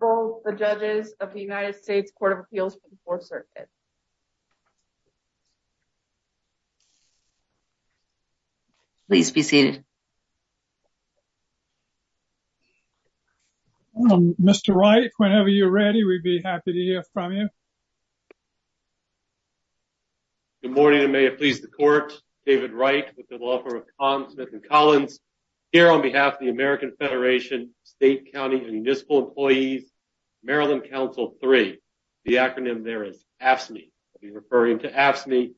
Court of Appeals for the 4th Circuit. Please be seated. Mr. Wright, whenever you're ready, we'd be happy to hear from you. Good morning and may it please the court David Wright with the law firm of Comms Smith and Collins here on behalf of the American Federation, State, County, and Municipal Employees, Maryland Council 3. The acronym there is AFSCME. I'll be referring to AFSCME,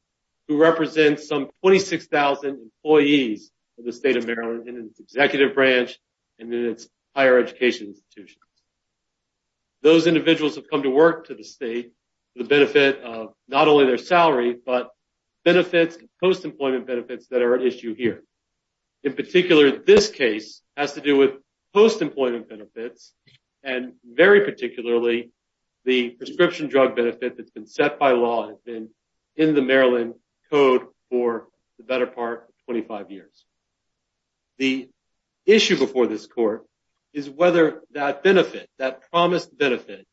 who represents some 26,000 employees of the State of Maryland in its executive branch and in its higher education institutions. Those individuals have come to work to the state for the benefit of not only their salary, but benefits, post-employment benefits that are at issue here. In particular, this case has to do with post-employment benefits. And very particularly, the prescription drug benefit that's been set by law has been in the Maryland code for the better part of 25 years. The issue before this court is whether that benefit, that promised benefit,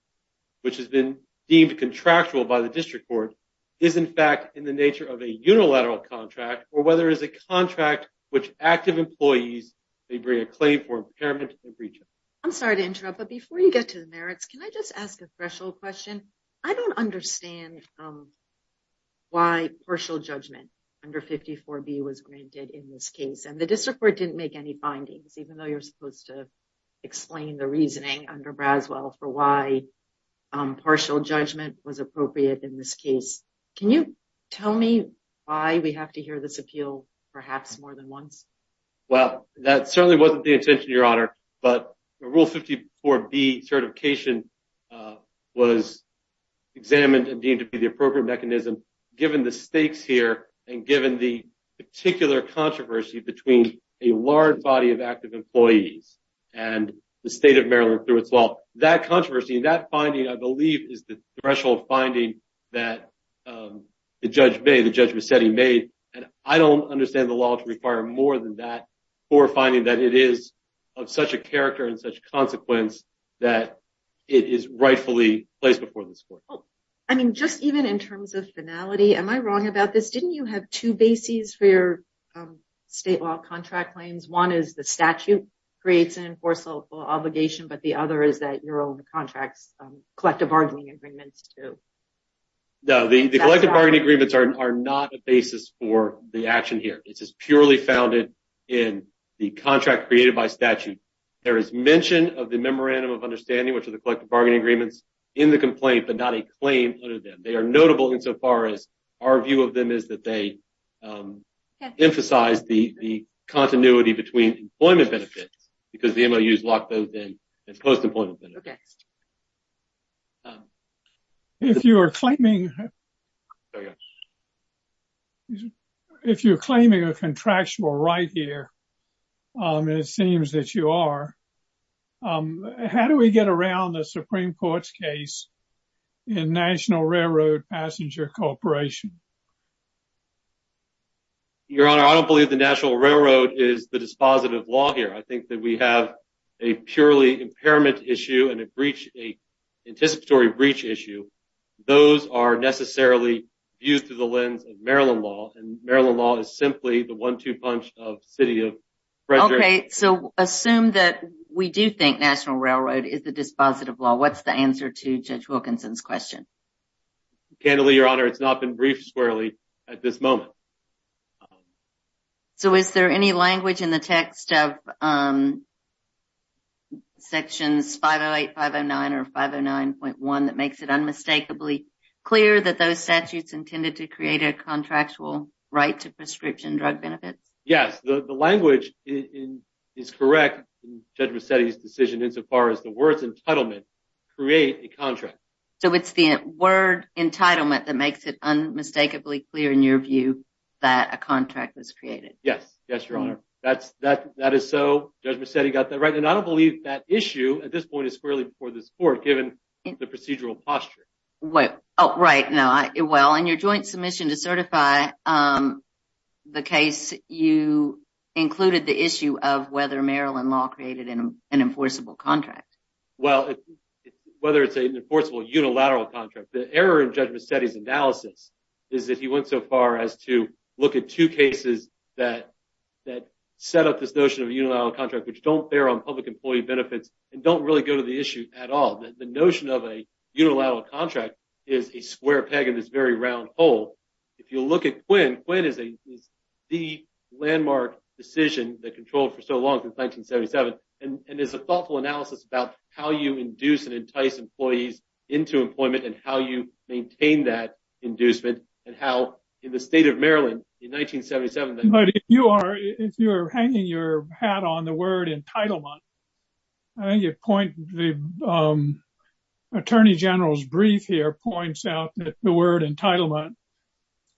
which has been deemed contractual by the district court, is in fact in the nature of a unilateral contract, or whether it's a contract which active employees may bring a claim for impairment and breach. I'm sorry to interrupt, but before you get to the merits, can I just ask a threshold question? I don't understand why partial judgment under 54B was granted in this case. And the district court didn't make any findings, even though you're supposed to explain the reasoning under Braswell for why partial judgment was appropriate in this case. Can you tell me why we have to hear this appeal perhaps more than once? Well, that certainly wasn't the intention, Your Honor, but Rule 54B certification was examined and deemed to be the appropriate mechanism given the stakes here and given the particular controversy between a large body of active employees and the state of Maryland through its law. That controversy, that finding, I believe, is the threshold finding that the judge made, the judge was said he made. And I don't understand the law to require more than that for finding that it is of such a character and such consequence that it is rightfully placed before this court. I mean, just even in terms of finality, am I wrong about this? Didn't you have two bases for your state law contract claims? One is the statute creates an enforceable obligation, but the other is that you're on the contract's collective bargaining agreements, too. No, the collective bargaining agreements are not a basis for the action here. This is purely founded in the contract created by statute. There is mention of the memorandum of understanding, which are the collective bargaining agreements, in the complaint, but not a claim under them. They are notable insofar as our view of them is that they emphasize the continuity between employment benefits, because the MOUs lock both in, and post-employment benefits. Go next. If you are claiming a contractual right here, and it seems that you are, how do we get around the Supreme Court's case in National Railroad Passenger Corporation? Your Honor, I don't believe the National Railroad is the dispositive law here. I think that we have a purely impairment issue and an anticipatory breach issue. Those are necessarily viewed through the lens of Maryland law, and Maryland law is simply the one-two punch of City of Frederick. Okay, so assume that we do think National Railroad is the dispositive law. What's the answer to Judge Wilkinson's question? Candidly, Your Honor, it's not been briefed squarely at this moment. So is there any language in the text of Sections 508, 509, or 509.1 that makes it unmistakably clear that those statutes intended to create a contractual right to prescription drug benefits? Yes, the language is correct in Judge Massetti's decision insofar as the words entitlement create a contract. So it's the word entitlement that makes it unmistakably clear in your view that a contract was created? Yes, yes, Your Honor. That is so. Judge Massetti got that right. And I don't believe that issue at this point is squarely before this Court, given the procedural posture. Well, oh, right, no. Well, in your joint submission to certify the case, you included the issue of whether Maryland law created an enforceable contract. Well, whether it's an enforceable unilateral contract. The error in Judge Massetti's analysis is that he went so far as to look at two cases that set up this notion of a unilateral contract, which don't bear on public employee benefits and don't really go to the issue at all. The notion of a unilateral contract is a square peg in this very round hole. If you look at Quinn, Quinn is the landmark decision that controlled for so long since 1977. And there's a thoughtful analysis about how you induce and entice employees into employment and how you maintain that inducement and how in the state of Maryland in 1977- But if you are hanging your hat on the word entitlement, I think your point, the Attorney General's brief here points out that the word entitlement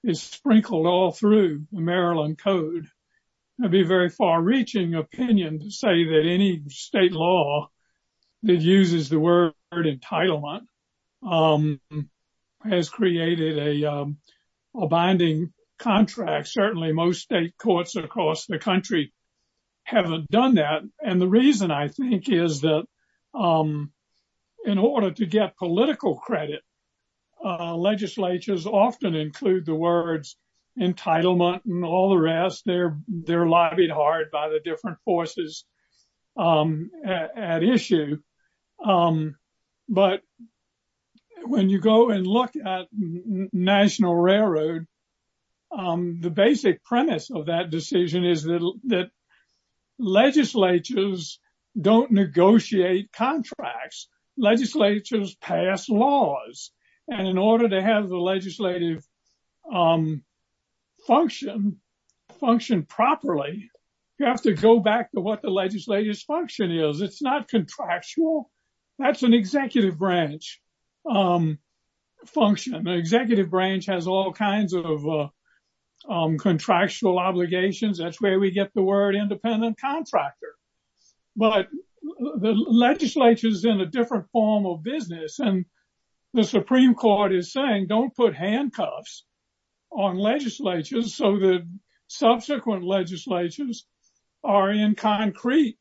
is sprinkled all through the Maryland Code. That'd be a very far reaching opinion to say that any state law that uses the word entitlement has created a binding contract. Certainly most state courts across the country haven't done that. And the reason I think is that in order to get political credit, legislatures often include the words entitlement and all the rest, they're lobbied hard by the different forces at issue. But when you go and look at National Railroad, the basic premise of that decision is that legislatures don't negotiate contracts, legislatures pass laws. And in order to have the legislative function properly, you have to go back to what the legislature's function is. It's not contractual. That's an executive branch function. The executive branch has all kinds of contractual obligations. That's where we get the word independent contractor. But the legislature's in a different form of business and the Supreme Court is saying, don't put handcuffs on legislatures so that subsequent legislatures are in concrete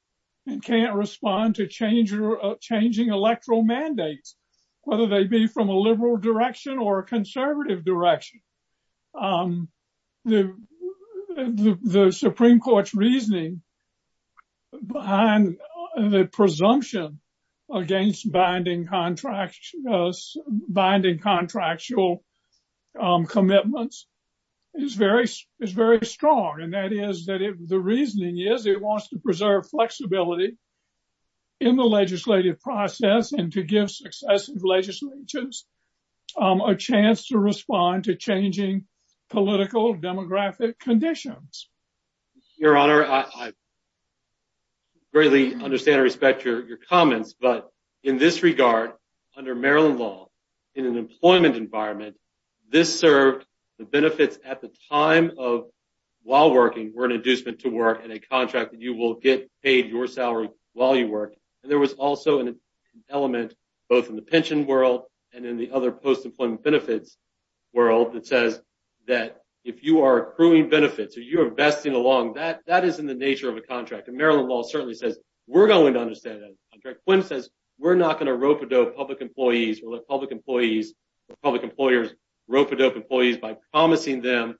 and can't respond to changing electoral mandates, whether they be from a liberal direction or a conservative direction. The Supreme Court's reasoning behind the presumption against binding contractual commitments is very strong. And that is that the reasoning is that it wants to preserve flexibility in the legislative process and to give successive legislatures a chance to respond to changing political demographic conditions. Your Honor, I greatly understand and respect your comments, but in this regard, under Maryland law, in an employment environment, this served the benefits at the time of while working were an inducement to work and a contract that you will get paid your salary while you work. And there was also an element both in the pension world and in the other post-employment benefits world that says that if you are accruing benefits or you're investing along, that is in the nature of a contract. And Maryland law certainly says we're going to understand that contract. Quinn says we're not gonna rope-a-dope public employees or let public employees or public employers rope-a-dope employees by promising them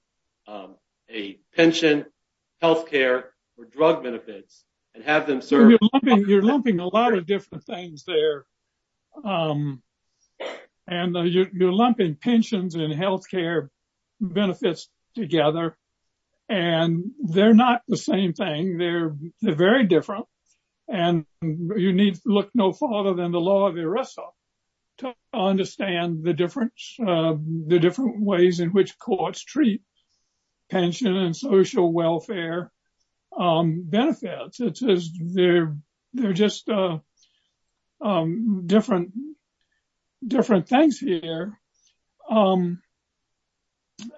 a pension, healthcare or drug benefits and have them serve- You're lumping a lot of different things there. And you're lumping pensions and healthcare benefits together and they're not the same thing. They're very different. And you need to look no further than the law of ERISA to understand the difference, the different ways in which courts treat pension and social welfare benefits. It says they're just different things here.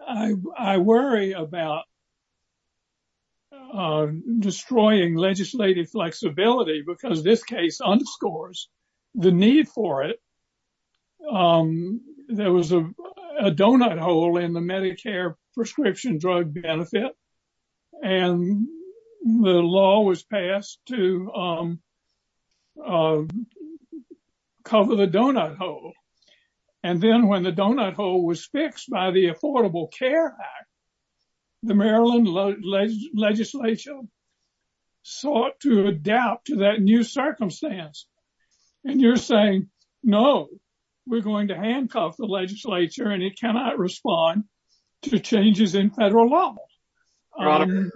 I worry about destroying legislative flexibility because this case underscores the need for it. There was a donut hole in the Medicare prescription drug benefit and the law was passed to cover the donut hole. And then when the donut hole was fixed by the Affordable Care Act, the Maryland legislature sought to adapt to that new circumstance. And you're saying, no, we're going to handcuff the legislature and it cannot respond to changes in federal law. And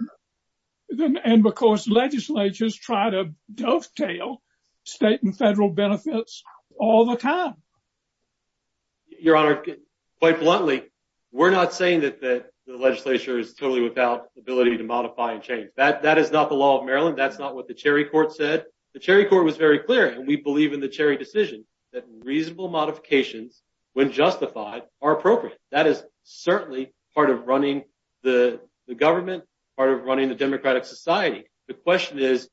because legislatures try to dovetail state and federal benefits all the time. Your Honor, quite bluntly, we're not saying that the legislature That is not the law of Maryland. That's not what the Cherry Court said. The Cherry Court was very clear. And we believe in the Cherry decision that reasonable modifications when justified are appropriate. That is certainly part of running the government, part of running the democratic society. The question is,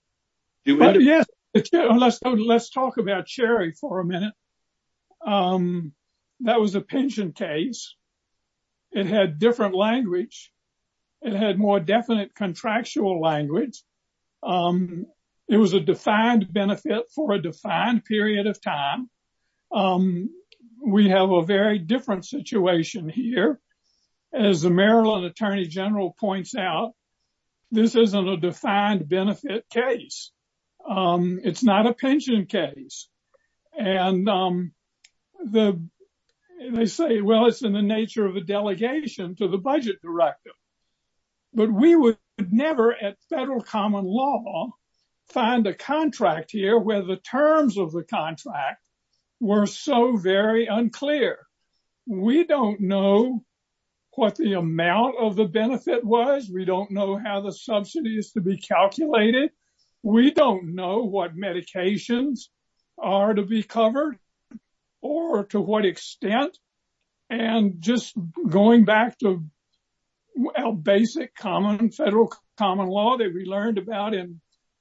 do we- Yes, let's talk about Cherry for a minute. That was a pension case. It had different language. It had more definite contractual language. It was a defined benefit for a defined period of time. We have a very different situation here. As the Maryland Attorney General points out, this isn't a defined benefit case. It's not a pension case. And they say, well, it's in the nature of a delegation to the budget directive. But we would never at federal common law find a contract here where the terms of the contract were so very unclear. We don't know what the amount of the benefit was. We don't know how the subsidy is to be calculated. We don't know what medications are to be covered or to what extent. And just going back to our basic common federal common law that we learned about in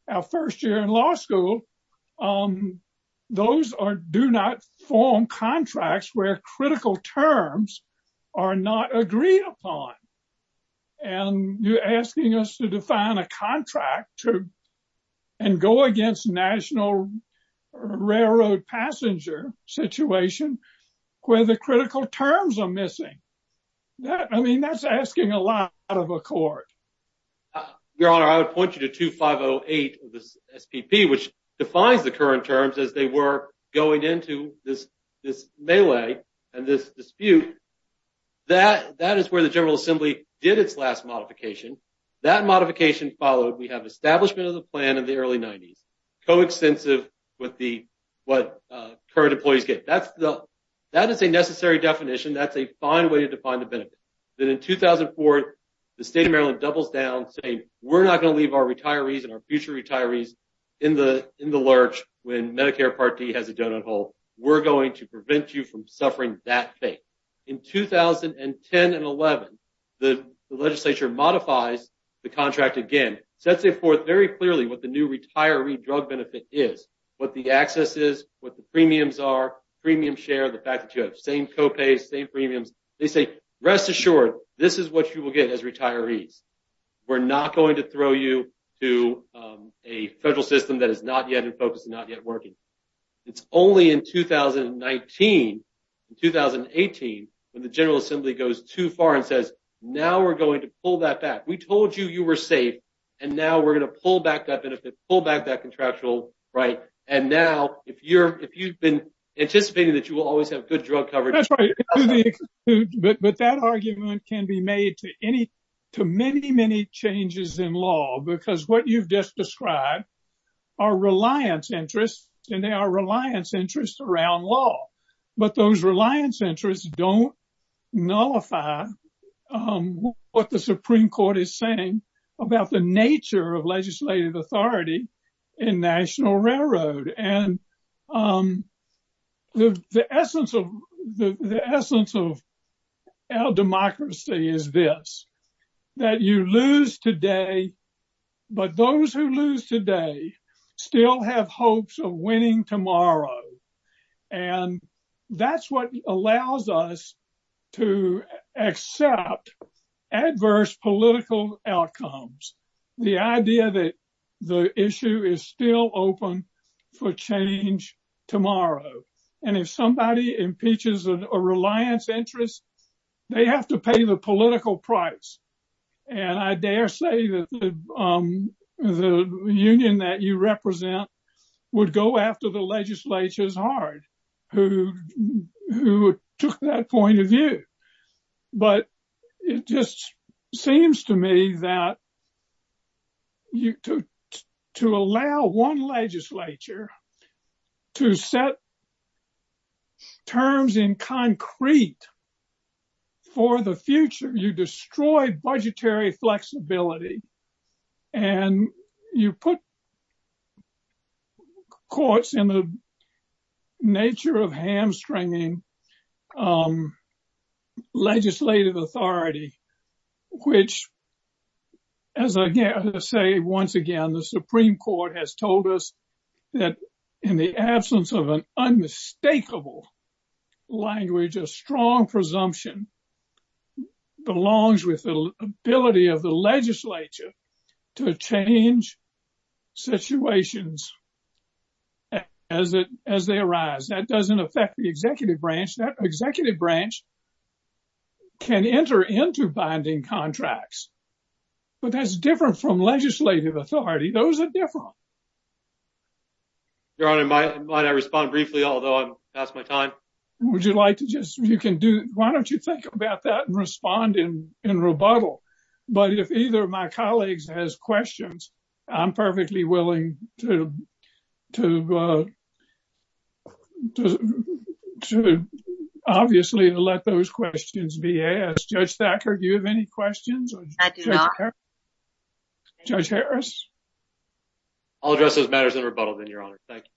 our first year in law school, those do not form contracts where critical terms are not agreed upon. And you're asking us to define a contract and go against national railroad passenger situation where the critical terms are missing. I mean, that's asking a lot out of a court. Your Honor, I would point you to 2508 of the SPP, which defines the current terms as they were going into this melee and this dispute. That is where the General Assembly did its last modification. That modification followed, we have establishment of the plan in the early 90s, coextensive with what current employees get. That is a necessary definition. That's a fine way to define the benefit. Then in 2004, the state of Maryland doubles down saying, we're not gonna leave our retirees and our future retirees in the lurch when Medicare Part D has a donut hole. We're going to prevent you from suffering that fate. In 2010 and 11, the legislature modifies the contract again, sets it forth very clearly what the new retiree drug benefit is, what the access is, what the premiums are, premium share, the fact that you have same copays, same premiums. They say, rest assured, this is what you will get as retirees. We're not going to throw you to a federal system that is not yet in focus and not yet working. It's only in 2019, in 2018, when the General Assembly goes too far and says, now we're going to pull that back. We told you you were safe, and now we're gonna pull back that benefit, pull back that contractual right. And now, if you've been anticipating that you will always have good drug coverage. That's right. But that argument can be made to any, to many, many changes in law, because what you've just described are reliance interests, and they are reliance interests around law. But those reliance interests don't nullify what the Supreme Court is saying about the nature of legislative authority in National Railroad. And the essence of our democracy is this, that you lose today, but those who lose today still have hopes of winning tomorrow. And that's what allows us to accept adverse political outcomes. The idea that the issue is still open for change tomorrow. And if somebody impeaches a reliance interest, they have to pay the political price. And I dare say that the union that you represent would go after the legislature as hard, who took that point of view. But it just seems to me that to allow one legislature to set terms in concrete for the future, you destroy budgetary flexibility. And you put courts in the nature of hamstringing legislative authority, which as I say, once again, the Supreme Court has told us that in the absence of an unmistakable language, a strong presumption belongs with the ability of the legislature to change situations as they arise. That doesn't affect the executive branch. That executive branch can enter into binding contracts, but that's different from legislative authority. Those are different. Your Honor, might I respond briefly, although I'm past my time? Would you like to just, you can do, why don't you think about that and respond in rebuttal? But if either of my colleagues has questions, I'm perfectly willing to, obviously, to let those questions be asked. Judge Thacker, do you have any questions? I do not. Judge Harris? I'll address those matters in rebuttal then, Your Honor. Thank you.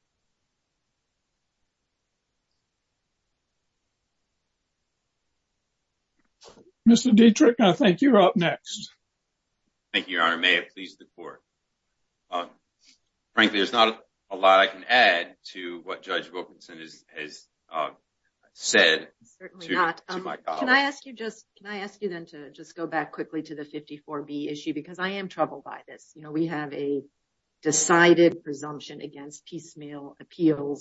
Mr. Dietrich, I think you're up next. Thank you, Your Honor. May it please the court. Frankly, there's not a lot I can add to what Judge Wilkinson has said to my colleagues. Can I ask you then to just go back quickly to the 54B issue, because I am troubled by this. We have a decided presumption against piecemeal abetting.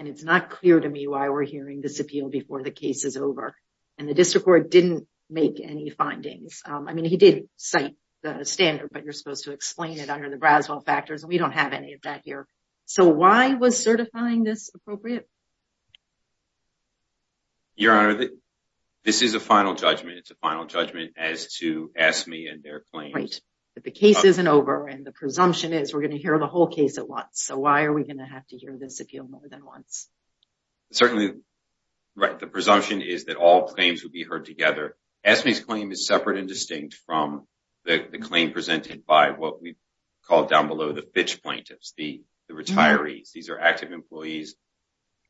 And it's not clear to me why we're hearing this appeal before the case is over. And the district court didn't make any findings. I mean, he did cite the standard, but you're supposed to explain it under the Braswell factors, and we don't have any of that here. So why was certifying this appropriate? Your Honor, this is a final judgment. It's a final judgment as to AFSCME and their claims. Right, but the case isn't over, and the presumption is we're gonna hear the whole case at once. So why are we gonna have to hear this appeal more than once? Certainly, right, the presumption is that all claims will be heard together. AFSCME's claim is separate and distinct from the claim presented by what we call down below the Fitch plaintiffs, the retirees. These are active employees,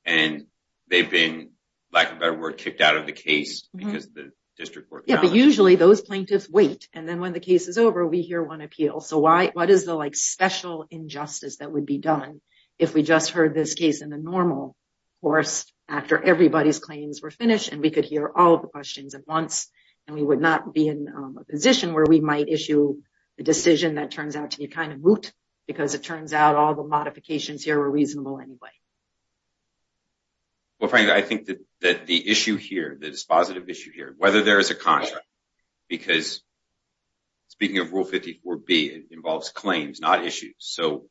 and they've been, lack of a better word, kicked out of the case because the district court- Yeah, but usually those plaintiffs wait, and then when the case is over, we hear one appeal. So what is the special injustice that would be done if we just heard this case in the normal course after everybody's claims were finished, and we could hear all of the questions at once, and we would not be in a position where we might issue a decision that turns out to be kind of moot because it turns out all the modifications here were reasonable anyway. Well, Frank, I think that the issue here, the dispositive issue here, whether there is a contract, because speaking of Rule 54B, it involves claims, not issues. So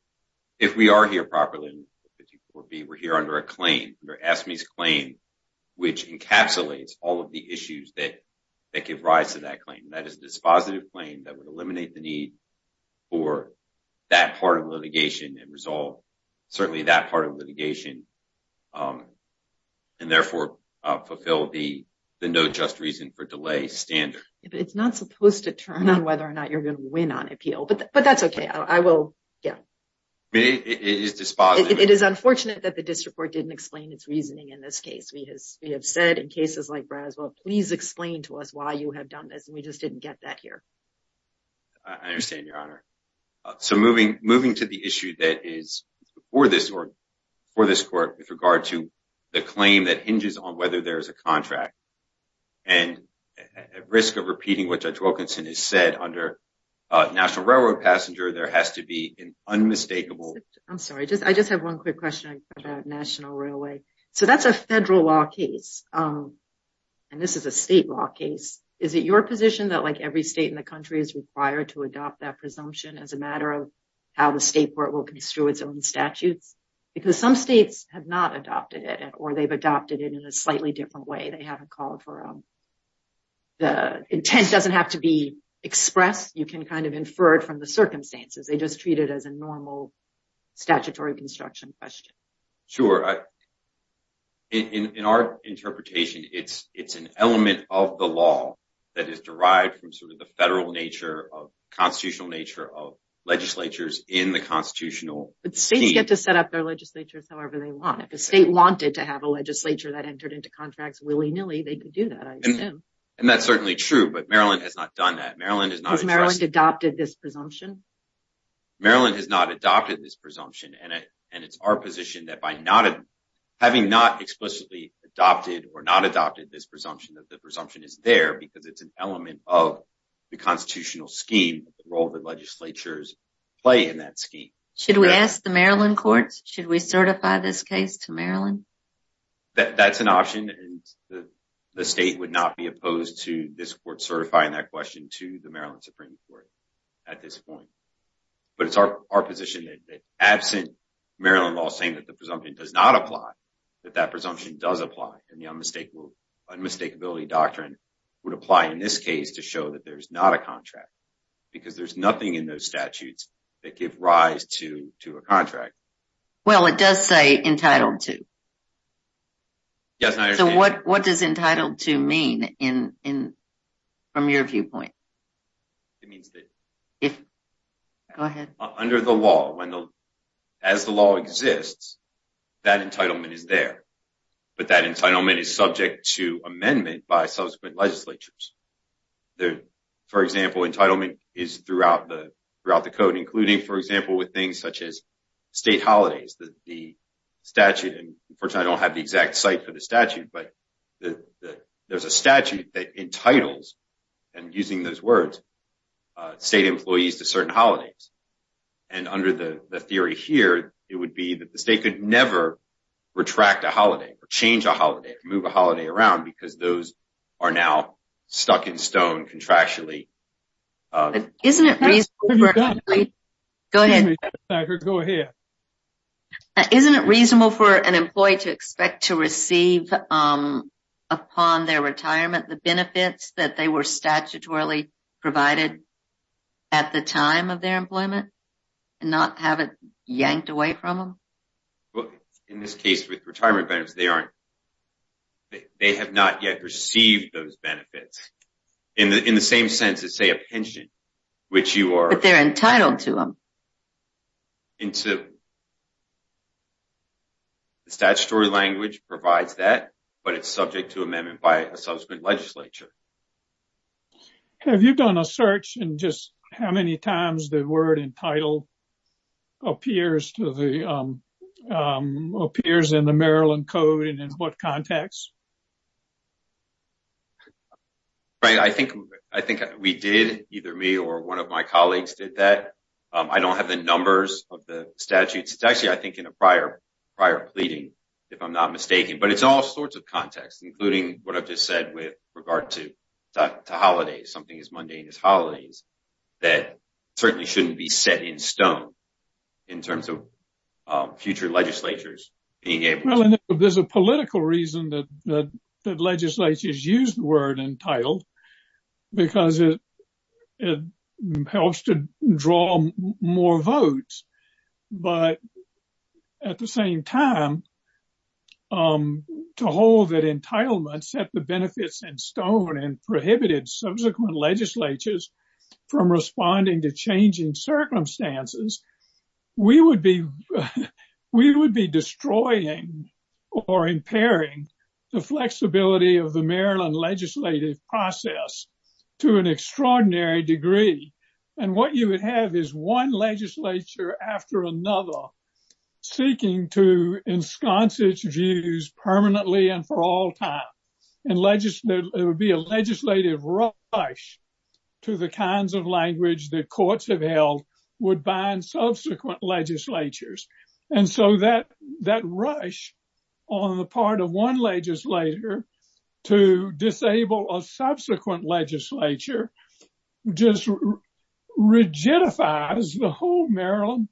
if we are here properly in 54B, we're here under a claim, under AFSCME's claim, which encapsulates all of the issues that give rise to that claim. That is a dispositive claim that would eliminate the need for that part of litigation and resolve certainly that part of litigation, and therefore fulfill the no just reason for delay standard. But it's not supposed to turn on whether or not you're going to win on appeal, but that's okay. I will, yeah. It is dispositive. It is unfortunate that the district court didn't explain its reasoning in this case. We have said in cases like Braswell, please explain to us why you have done this, and we just didn't get that here. I understand, Your Honor. So moving to the issue that is for this court with regard to the claim that hinges on whether there is a contract, and at risk of repeating what Judge Wilkinson has said under a National Railroad passenger, there has to be an unmistakable- I'm sorry. I just have one quick question about National Railway. So that's a federal law case, and this is a state law case. Is it your position that like every state in the country is required to adopt that presumption as a matter of how the state court will construe its own statutes? Because some states have not adopted it, or they've adopted it in a slightly different way. They haven't called for a... The intent doesn't have to be expressed. You can kind of infer it from the circumstances. They just treat it as a normal statutory construction question. Sure. In our interpretation, it's an element of the law that is derived from sort of the federal nature of constitutional nature of legislatures in the constitutional scheme. however they want. If a state wanted to have a legislature that entered into contracts willy-nilly, they could do that, I assume. And that's certainly true, but Maryland has not done that. Maryland has not- Has Maryland adopted this presumption? Maryland has not adopted this presumption, and it's our position that by not... Having not explicitly adopted or not adopted this presumption, that the presumption is there because it's an element of the constitutional scheme, Should we ask the Maryland courts? Should we certify this case to Maryland? That's an option, and the state would not be opposed to this court certifying that question to the Maryland Supreme Court at this point. But it's our position that absent Maryland law saying that the presumption does not apply, that that presumption does apply, and the unmistakability doctrine would apply in this case to show that there's not a contract because there's nothing in those statutes that give rise to a contract. Well, it does say entitled to. Yes, and I understand- So what does entitled to mean from your viewpoint? It means that if... Go ahead. Under the law, as the law exists, that entitlement is there, but that entitlement is subject to amendment For example, entitlement is throughout the code, including, for example, with things such as state holidays, that the statute, and unfortunately I don't have the exact site for the statute, but there's a statute that entitles, and using those words, state employees to certain holidays. And under the theory here, it would be that the state could never retract a holiday or change a holiday or move a holiday around Isn't it reasonable- That's what you've got. Go ahead. Isn't it reasonable for an employee to expect to receive upon their retirement the benefits that they were statutorily provided at the time of their employment and not have it yanked away from them? Well, in this case, with retirement benefits, they have not yet received those benefits. In the same sense as, say, a pension, which you are- You're entitled to them. Entitled. The statutory language provides that, but it's subject to amendment by a subsequent legislature. Have you done a search in just how many times the word entitled appears in the Maryland Code and in what context? Frank, I think we did, either me or one of my colleagues did that. I don't have the numbers of the statutes. It's actually, I think, in a prior pleading, if I'm not mistaken. But it's all sorts of contexts, including what I've just said with regard to holidays, something as mundane as holidays, that certainly shouldn't be set in stone in terms of future legislatures being able to- Well, and there's a political reason that legislatures use the word entitled because it helps to draw more votes. But at the same time, to hold that entitlement set the benefits in stone and prohibited subsequent legislatures from responding to changing circumstances, we would be destroying or impairing the flexibility of the Maryland legislative process to an extraordinary degree. And what you would have is one legislature after another seeking to ensconce its views permanently and for all time. And there would be a legislative rush to the kinds of language that courts have held would bind subsequent legislatures. And so that rush on the part of one legislator to disable a subsequent legislature just rigidifies the whole Maryland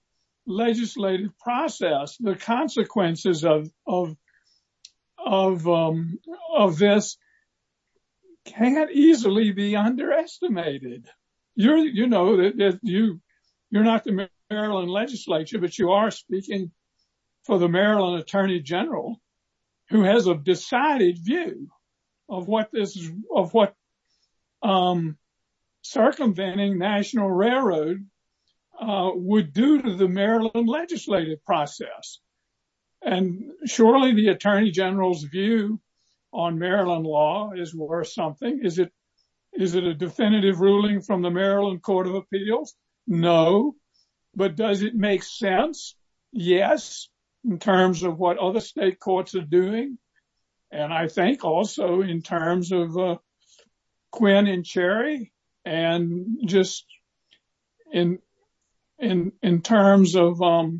legislative process. The consequences of this can't easily be underestimated. You know that you're not the Maryland legislature, but you are speaking for the Maryland Attorney General who has a decided view of what circumventing National Railroad would do to the Maryland legislative process. And surely the Attorney General's view on Maryland law is worth something. Is it a definitive ruling from the Maryland Court of Appeals? No, but does it make sense? Yes, in terms of what other state courts are doing. And I think also in terms of Quinn and Cherry and just in terms of what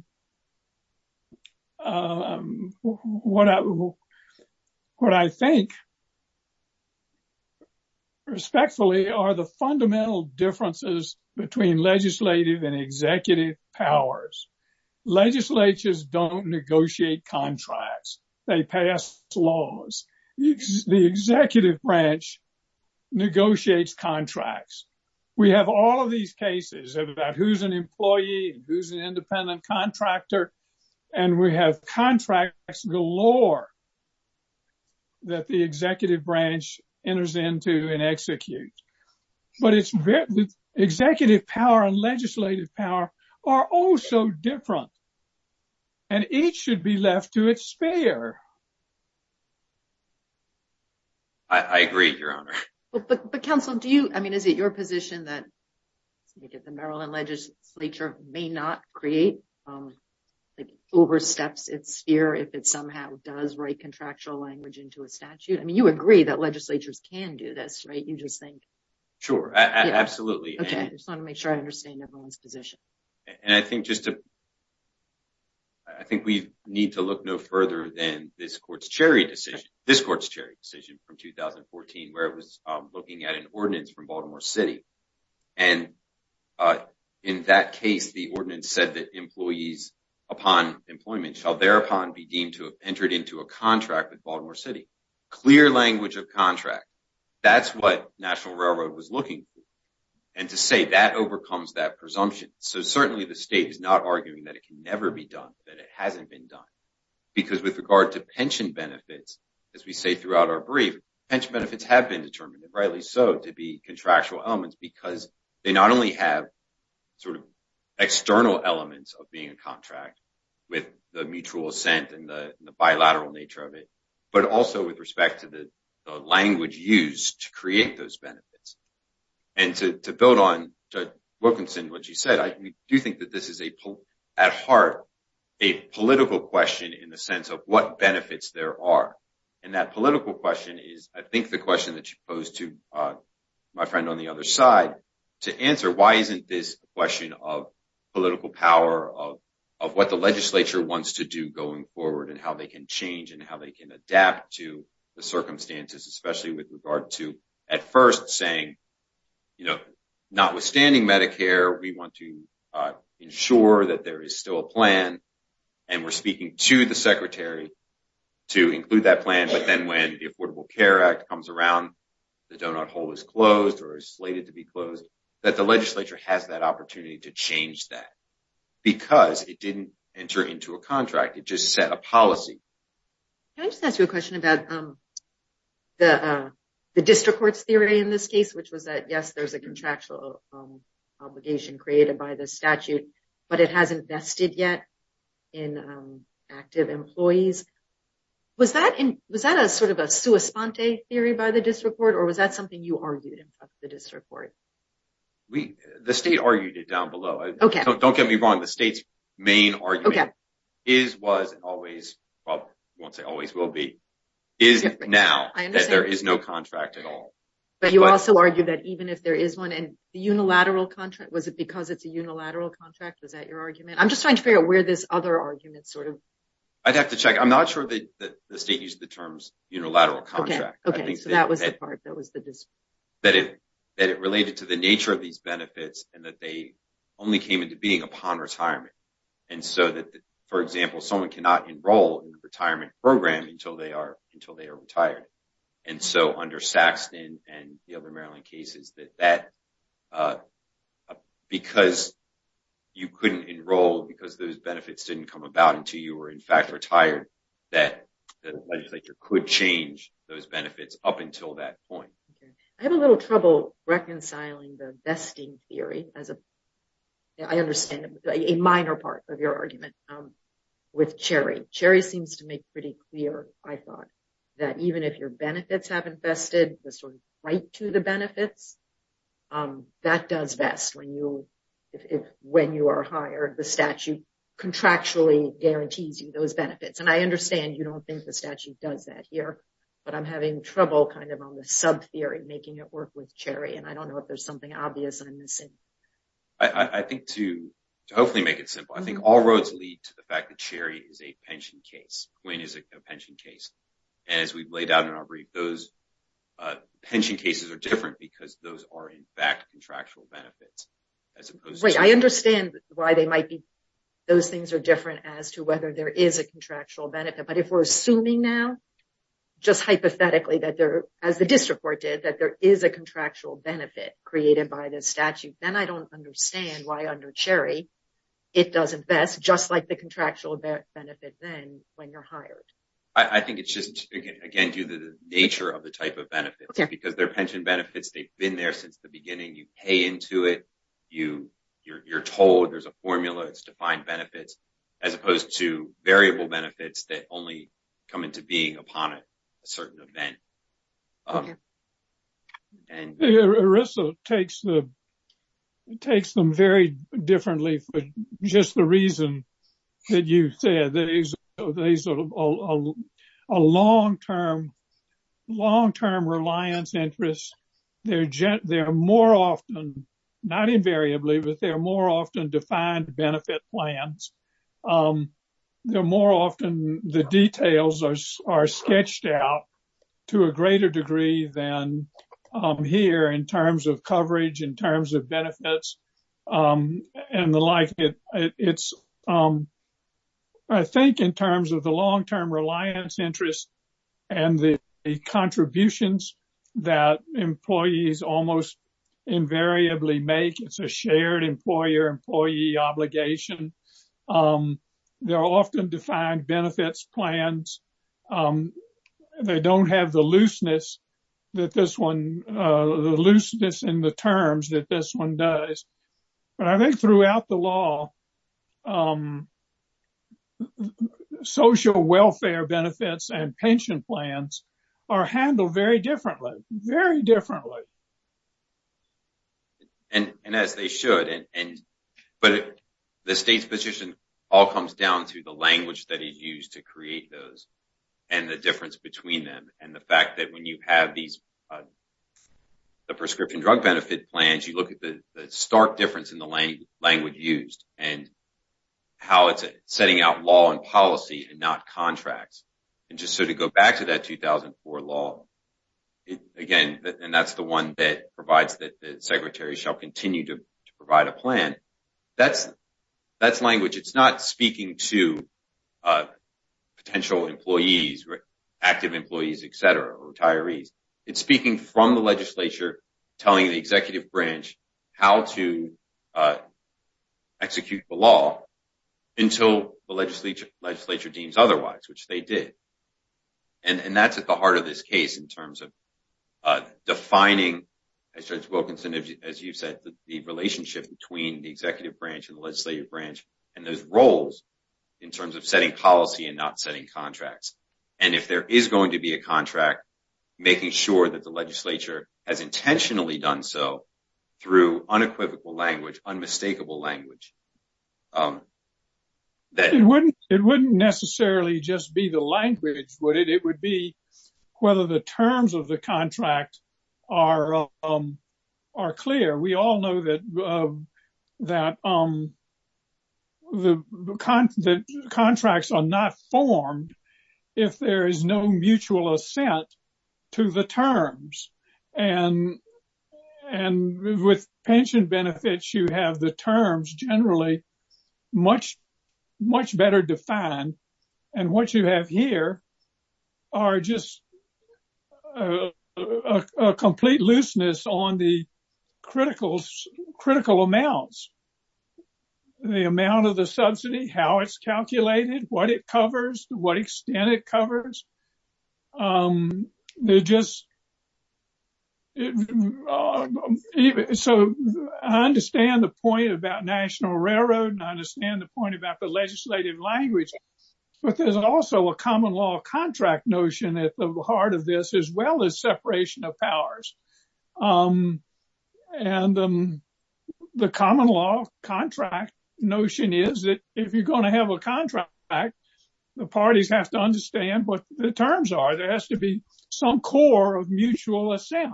I think respectfully are the fundamental differences between legislative and executive powers. Legislatures don't negotiate contracts, they pass laws. The executive branch negotiates contracts. We have all of these cases about who's an employee and who's an independent contractor. And we have contracts galore that the executive branch enters into and execute. But executive power and legislative power are also different and each should be left to its spare. I agree, Your Honor. But counsel, do you, I mean, is it your position that the Maryland legislature may not create like oversteps its sphere if it somehow does write contractual language into a statute? I mean, you agree that legislatures can do this, right? You just think. Sure, absolutely. Okay, I just want to make sure I understand everyone's position. And I think we need to look no further than this court's Cherry decision from 2014 where it was looking at an ordinance from Baltimore City. And in that case, the ordinance said that employees upon employment shall thereupon be deemed to have entered into a contract with Baltimore City. Clear language of contract. That's what National Railroad was looking for. And to say that overcomes that presumption. So certainly the state is not arguing that it can never be done, that it hasn't been done. Because with regard to pension benefits, as we say throughout our brief, pension benefits have been determined, rightly so, to be contractual elements because they not only have sort of external elements of being a contract with the mutual assent and the bilateral nature of it, but also with respect to the language used to create those benefits. And to build on Judge Wilkinson, what she said, I do think that this is at heart a political question in the sense of what benefits there are. And that political question is, I think the question that she posed to my friend on the other side, to answer why isn't this a question of political power, of what the legislature wants to do going forward and how they can change and how they can adapt to the circumstances, especially with regard to at first saying, notwithstanding Medicare, we want to ensure that there is still a plan. And we're speaking to the secretary to include that plan. But then when the Affordable Care Act comes around, the doughnut hole is closed or is slated to be closed, that the legislature has that opportunity to change that because it didn't enter into a contract, it just set a policy. Can I just ask you a question about the district court's theory in this case, which was that, yes, there's a contractual obligation created by the statute, but it hasn't vested yet in active employees. Was that a sort of a sua sponte theory by the district court or was that something you argued in front of the district court? The state argued it down below. Don't get me wrong. The state's main argument is, was, always, well, I won't say always will be, is now that there is no contract at all. But you also argue that even if there is one and the unilateral contract, was it because it's a unilateral contract? Was that your argument? I'm just trying to figure out where this other argument sort of... I'd have to check. I'm not sure that the state used the terms unilateral contract. Okay, so that was the part that was the dispute. That it related to the nature of these benefits and that they only came into being upon retirement. And so that, for example, someone cannot enroll in the retirement program until they are retired. And so under Saxton and the other Maryland cases, that because you couldn't enroll because those benefits didn't come about until you were in fact retired, that the legislature could change those benefits up until that point. I have a little trouble reconciling the vesting theory as a, I understand, a minor part of your argument with Cherry. Cherry seems to make pretty clear, I thought, that even if your benefits haven't vested, the sort of right to the benefits, that does vest when you are hired. The statute contractually guarantees you those benefits. And I understand you don't think the statute does that here, but I'm having trouble kind of on the sub theory, making it work with Cherry. And I don't know if there's something obvious I'm missing. I think to hopefully make it simple, I think all roads lead to the fact that Cherry is a pension case. Quinn is a pension case. And as we've laid out in our brief, those pension cases are different because those are in fact contractual benefits as opposed to- Right, I understand why they might be, those things are different as to whether there is a contractual benefit. But if we're assuming now, just hypothetically, that there, as the district court did, that there is a contractual benefit created by the statute, then I don't understand why under Cherry, it doesn't vest just like the contractual benefit then when you're hired. I think it's just, again, due to the nature of the type of benefits. Because they're pension benefits, they've been there since the beginning. You pay into it, you're told, there's a formula, it's defined benefits, as opposed to variable benefits that only come into being upon a certain event. And- Arisa takes them very differently for just the reason that you said, that these are a long-term reliance interest. They're more often, not invariably, but they're more often defined benefit plans. They're more often, the details are sketched out to a greater degree than here in terms of coverage, in terms of benefits, and the like. I think in terms of the long-term reliance interest and the contributions that employees almost invariably make, it's a shared employer-employee obligation. They're often defined benefits plans. They don't have the looseness that this one, the looseness in the terms that this one does. But I think throughout the law, social welfare benefits and pension plans are handled very differently, very differently. And as they should. But the state's position all comes down to the language that is used to create those and the difference between them. And the fact that when you have the prescription drug benefit plans, you look at the stark difference in the language used. And how it's setting out law and policy and not contracts. And just so to go back to that 2004 law, again, and that's the one that provides that the secretary shall continue to provide a plan. That's language, it's not speaking to potential employees, active employees, et cetera, or retirees. It's speaking from the legislature, telling the executive branch how to execute the law until the legislature deems otherwise, which they did. And that's at the heart of this case in terms of defining, as Judge Wilkinson, as you've said, the relationship between the executive branch and the legislative branch and those roles in terms of setting policy and not setting contracts. And if there is going to be a contract, making sure that the legislature has intentionally done so through unequivocal language, unmistakable language. It wouldn't necessarily just be the language, would it? It would be whether the terms of the contract are clear. We all know that the contracts are not formed if there is no mutual assent to the terms. And with pension benefits, you have the terms generally much better defined. And what you have here are just a complete looseness on the critical amounts, the amount of the subsidy, how it's calculated, what it covers, what extent it covers. They're just, so I understand the point about National Railroad and I understand the point about the legislative language, but there's also a common law contract notion at the heart of this, as well as separation of powers. And the common law contract notion is that if you're going to have a contract, the parties have to understand what the terms are. There has to be some core of mutual assent.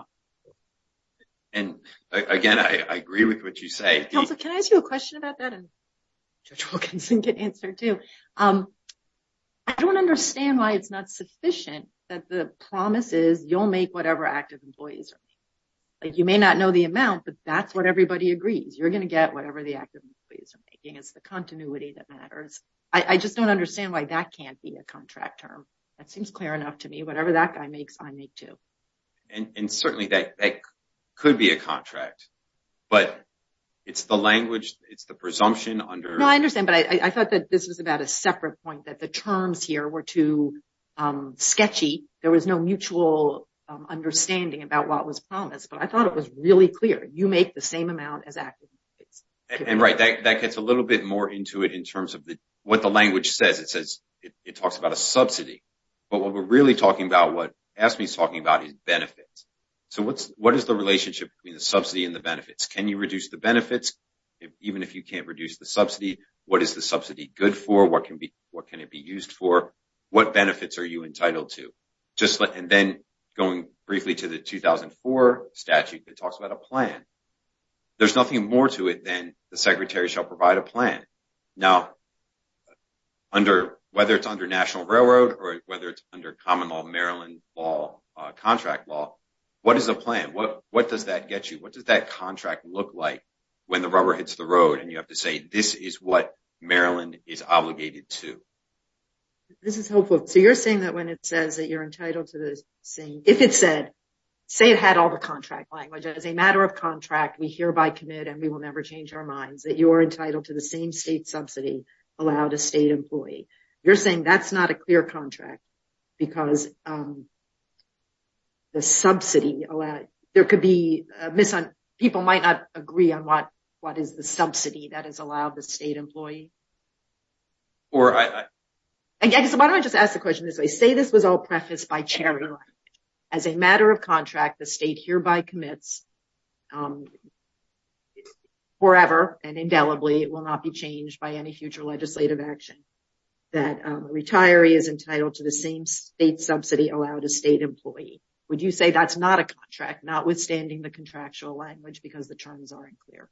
And again, I agree with what you say. Counselor, can I ask you a question about that? And Judge Wilkinson can answer too. I don't understand why it's not sufficient that the promise is you'll make whatever active employees are making. Like you may not know the amount, but that's what everybody agrees. You're going to get whatever the active employees are making, it's the continuity that matters. I just don't understand why that can't be a contract term. That seems clear enough to me. Whatever that guy makes, I make too. And certainly that could be a contract, but it's the language, it's the presumption under. No, I understand, but I thought that this was about a separate point, that the terms here were too sketchy. There was no mutual understanding about what was promised, but I thought it was really clear. You make the same amount as active employees. And right, that gets a little bit more into it in terms of what the language says. It says, it talks about a subsidy, but what we're really talking about, what AFSCME is talking about is benefits. So what is the relationship between the subsidy and the benefits? Can you reduce the benefits? Even if you can't reduce the subsidy, what is the subsidy good for? What can it be used for? What benefits are you entitled to? Just like, and then going briefly to the 2004 statute, it talks about a plan. There's nothing more to it than the secretary shall provide a plan. Now, whether it's under National Railroad or whether it's under common law, Maryland law, contract law, what is the plan? What does that get you? What does that contract look like when the rubber hits the road? And you have to say, this is what Maryland is obligated to. This is helpful. So you're saying that when it says that you're entitled to the same, if it said, say it had all the contract language, as a matter of contract, we hereby commit and we will never change our minds that you are entitled to the same state subsidy allowed a state employee. You're saying that's not a clear contract because the subsidy allowed, there could be a miss on, people might not agree on what is the subsidy that is allowed the state employee. Or I... Again, so why don't I just ask the question this way. Say this was all prefaced by charitable act. As a matter of contract, the state hereby commits forever and indelibly, it will not be changed by any future legislative action that a retiree is entitled to the same state subsidy allowed a state employee. Would you say that's not a contract, notwithstanding the contractual language because the terms aren't clear?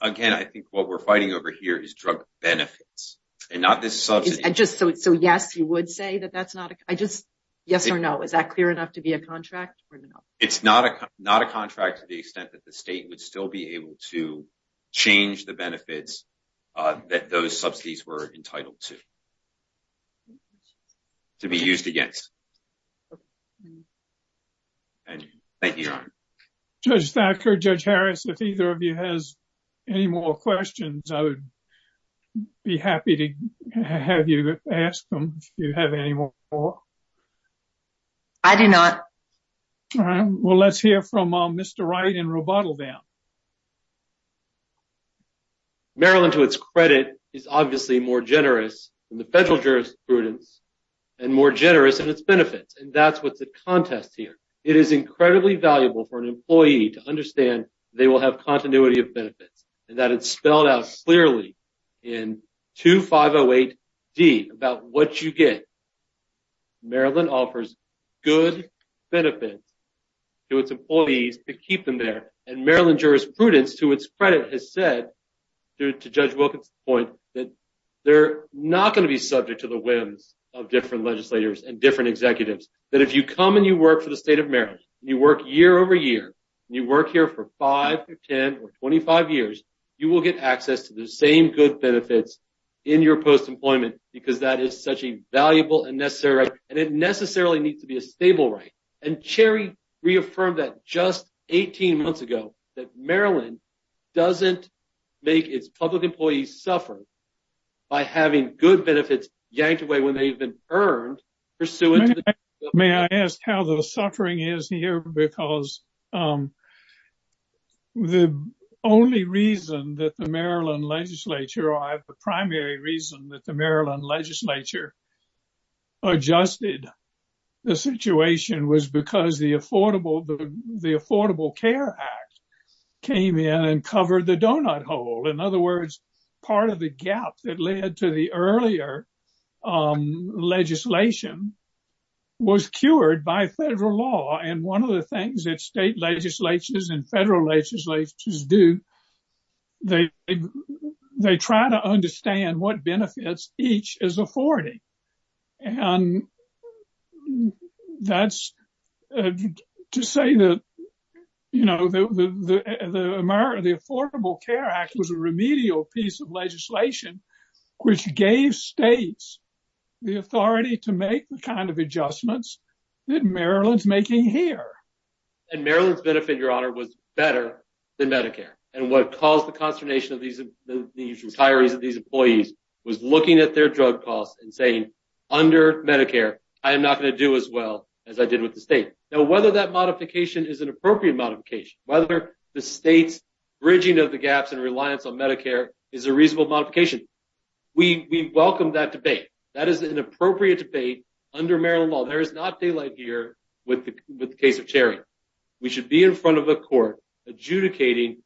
Again, I think what we're fighting over here is drug benefits and not this subsidy. So yes, you would say that that's not a, I just, yes or no, is that clear enough to be a contract or no? It's not a contract. It's not a contract to the extent that the state would still be able to change the benefits that those subsidies were entitled to, to be used against. And thank you, Your Honor. Judge Thacker, Judge Harris, if either of you has any more questions, I would be happy to have you ask them if you have any more. I do not. All right, well, let's hear from Mr. Wright in Robotoville. Maryland, to its credit, is obviously more generous than the federal jurisprudence and more generous in its benefits. And that's what's at contest here. It is incredibly valuable for an employee to understand they will have continuity of benefits and that it's spelled out clearly in 2508D about what you get. Maryland offers good benefits to its employees to keep them there. And Maryland jurisprudence, to its credit, has said, to Judge Wilkins' point, that they're not gonna be subject to the whims of different legislators and different executives, that if you come and you work for the state of Maryland, and you work year over year, and you work here for five or 10 or 25 years, you will get access to the same good benefits in your post-employment because that is such a valuable and necessary right. And it necessarily needs to be a stable right. And Cherry reaffirmed that just 18 months ago, that Maryland doesn't make its public employees suffer by having good benefits yanked away when they've been earned pursuant to the- May I ask how the suffering is here? Because the only reason that the Maryland legislature, or the primary reason that the Maryland legislature adjusted the situation was because the Affordable Care Act came in and covered the donut hole. In other words, part of the gap that led to the earlier legislation was cured by federal law. And one of the things that state legislatures and federal legislatures do, they try to understand what benefits each is afforded. And that's to say that the Affordable Care Act was a remedial piece of legislation, which gave states the authority to make the kind of adjustments that Maryland's making here. And Maryland's benefit, Your Honor, was better than Medicare. And what caused the consternation of these retirees and these employees was looking at their drug costs and saying, under Medicare, I am not gonna do as well as I did with the state. Now, whether that modification is an appropriate modification, whether the state's bridging of the gaps and reliance on Medicare is a reasonable modification, we welcome that debate. That is an appropriate debate under Maryland law. There is not daylight here with the case of Cherry. We should be in front of a court adjudicating,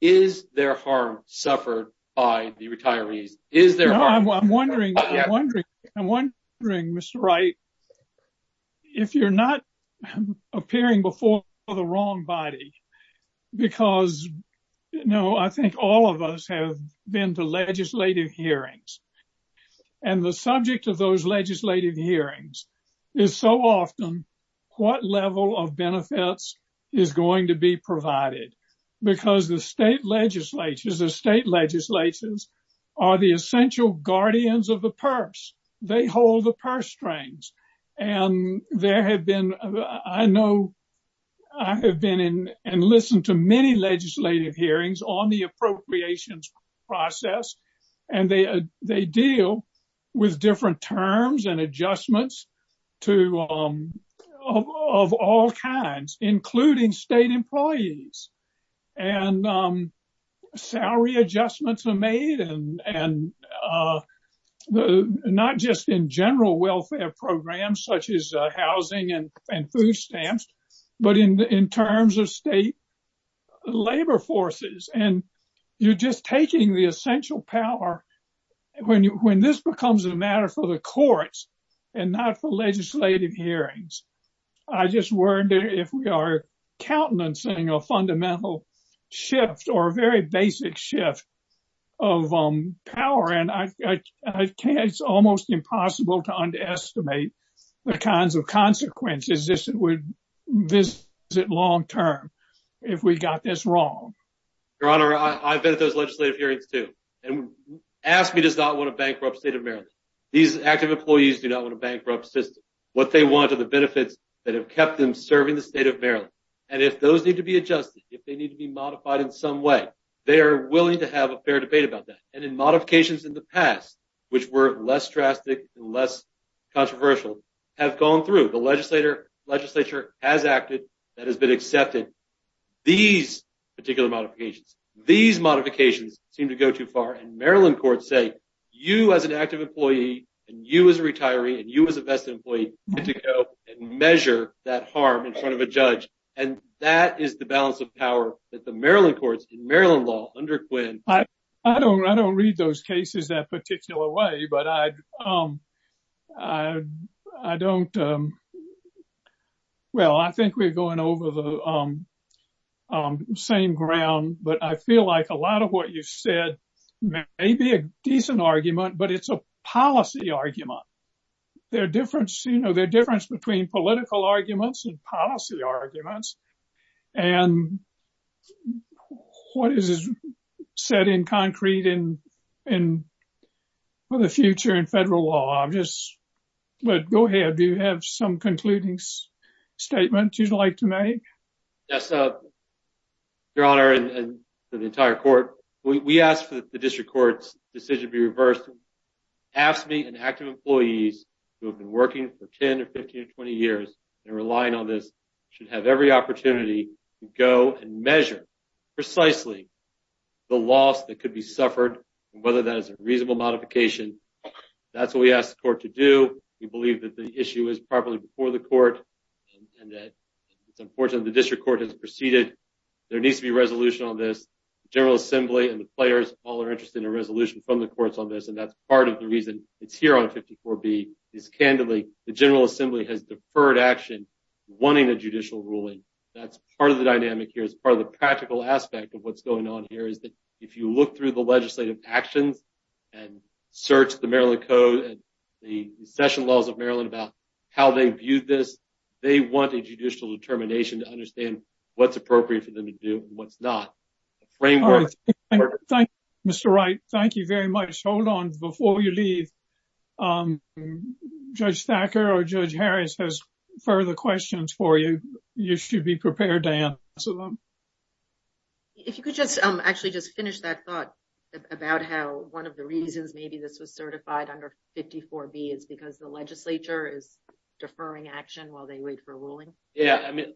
is there harm suffered by the retirees? Is there- I'm wondering, Mr. Wright, if you're not appearing before the wrong body, because I think all of us have been to legislative hearings and the subject of those legislative hearings is so often what level of benefits is going to be provided. Because the state legislatures, the state legislatures are the essential guardians of the purse. They hold the purse strings. And there have been, I know, I have been in and listened to many legislative hearings on the appropriations process. And they deal with different terms and adjustments to, of all kinds, including state employees. And salary adjustments are made and not just in general welfare programs such as housing and food stamps, but in terms of state labor forces. And you're just taking the essential power when this becomes a matter for the courts and not for legislative hearings. I just wonder if we are countenancing a fundamental shift or a very basic shift of power. And I can't, it's almost impossible to underestimate the kinds of consequences this would visit long-term if we got this wrong. Your Honor, I've been at those legislative hearings too. And AFSCME does not want to bankrupt the state of Maryland. These active employees do not want to bankrupt the system. What they want are the benefits that have kept them serving the state of Maryland. And if those need to be adjusted, if they need to be modified in some way, they are willing to have a fair debate about that. And in modifications in the past, which were less drastic and less controversial, have gone through. The legislature has acted, that has been accepted. These particular modifications, these modifications seem to go too far. And Maryland courts say, you as an active employee and you as a retiree and you as a vested employee get to go and measure that harm in front of a judge. And that is the balance of power that the Maryland courts in Maryland law under Quinn. I don't read those cases that particular way, but I don't, well, I think we're going over the same ground, but I feel like a lot of what you've said may be a decent argument, but it's a policy argument. There are difference, you know, there are difference between political arguments and policy arguments. And what is said in concrete and for the future in federal law, I'm just, but go ahead, do you have some concluding statements you'd like to make? Yes, Your Honor, and to the entire court, we asked for the district court's decision to be reversed, AFSCME and active employees who have been working for 10 or 15 or 20 years and relying on this should have every opportunity to go and measure precisely the loss that could be suffered and whether that is a reasonable modification. That's what we asked the court to do. We believe that the issue is properly before the court and that it's unfortunate the district court has proceeded. There needs to be resolution on this. General assembly and the players all are interested in a resolution from the courts on this. And that's part of the reason it's here on 54B is candidly the general assembly has deferred action wanting a judicial ruling. That's part of the dynamic here. It's part of the practical aspect of what's going on here is that if you look through the legislative actions and search the Maryland code and the session laws of Maryland about how they viewed this, they want a judicial determination to understand what's appropriate for them to do and what's not. Mr. Wright, thank you very much. Hold on before you leave. Judge Thacker or Judge Harris has further questions for you. You should be prepared to answer them. If you could just actually just finish that thought about how one of the reasons maybe this was certified under 54B is because the legislature is deferring action while they wait for a ruling. Yeah, I mean,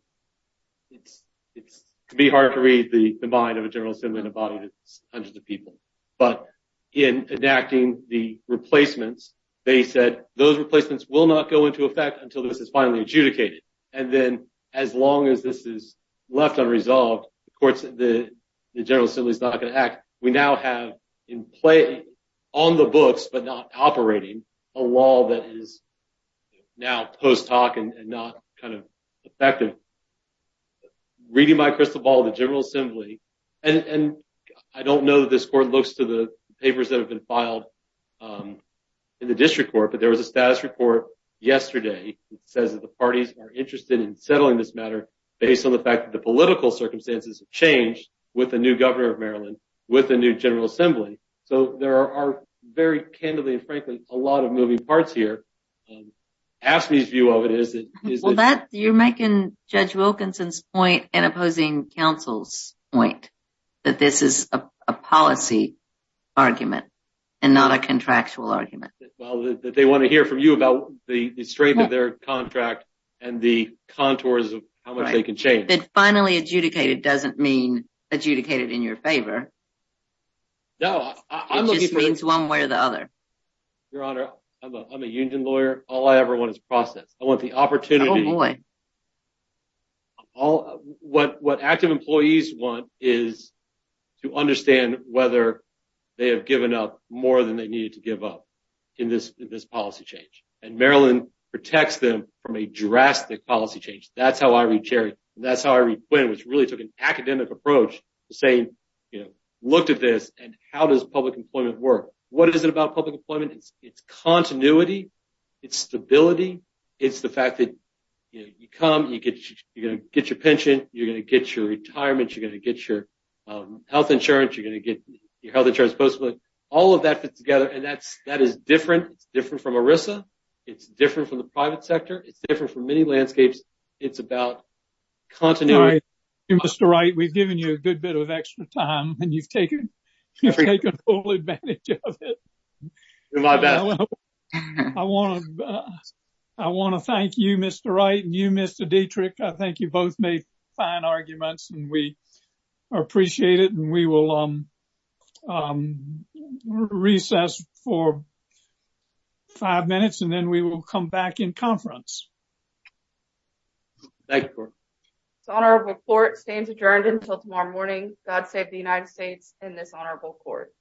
it's hard to read the mind of a general assembly in a body that's hundreds of people. But in enacting the replacements, they said those replacements will not go into effect until this is finally adjudicated. And then as long as this is left unresolved, the courts, the general assembly is not gonna act. We now have in play on the books, but not operating a law that is now post hoc and not kind of effective. Reading my crystal ball, the general assembly, and I don't know that this court looks to the papers that have been filed in the district court, but there was a status report yesterday that says that the parties are interested in settling this matter based on the fact that the political circumstances have changed with the new governor of Maryland, with the new general assembly. So there are very candidly and frankly, a lot of moving parts here. AFSCME's view of it is that- Well, you're making Judge Wilkinson's point and opposing counsel's point that this is a policy argument and not a contractual argument. Well, that they wanna hear from you about the strength of their contract and the contours of how much they can change. That finally adjudicated doesn't mean adjudicated in your favor. No, I'm looking for- It just means one way or the other. Your Honor, I'm a union lawyer. All I ever want is process. I want the opportunity. Oh boy. What active employees want is to understand whether they have given up more than they needed to give up in this policy change. And Maryland protects them from a drastic policy change. That's how I read Cherry. That's how I read Quinn, which really took an academic approach saying, looked at this and how does public employment work? What is it about public employment? It's continuity. It's stability. It's the fact that you come, you're gonna get your pension. You're gonna get your retirement. You're gonna get your health insurance. You're gonna get your health insurance post-employment. All of that fits together. And that is different. It's different from ERISA. It's different from the private sector. It's different from many landscapes. It's about continuity. Mr. Wright, we've given you a good bit of extra time and you've taken full advantage of it. You're my best. I wanna thank you, Mr. Wright and you, Mr. Dietrich. I think you both made fine arguments and we appreciate it. And we will recess for five minutes and then we will come back in conference. Thank you, Gordon. It's honorable court stands adjourned until tomorrow morning. God save the United States and this honorable court.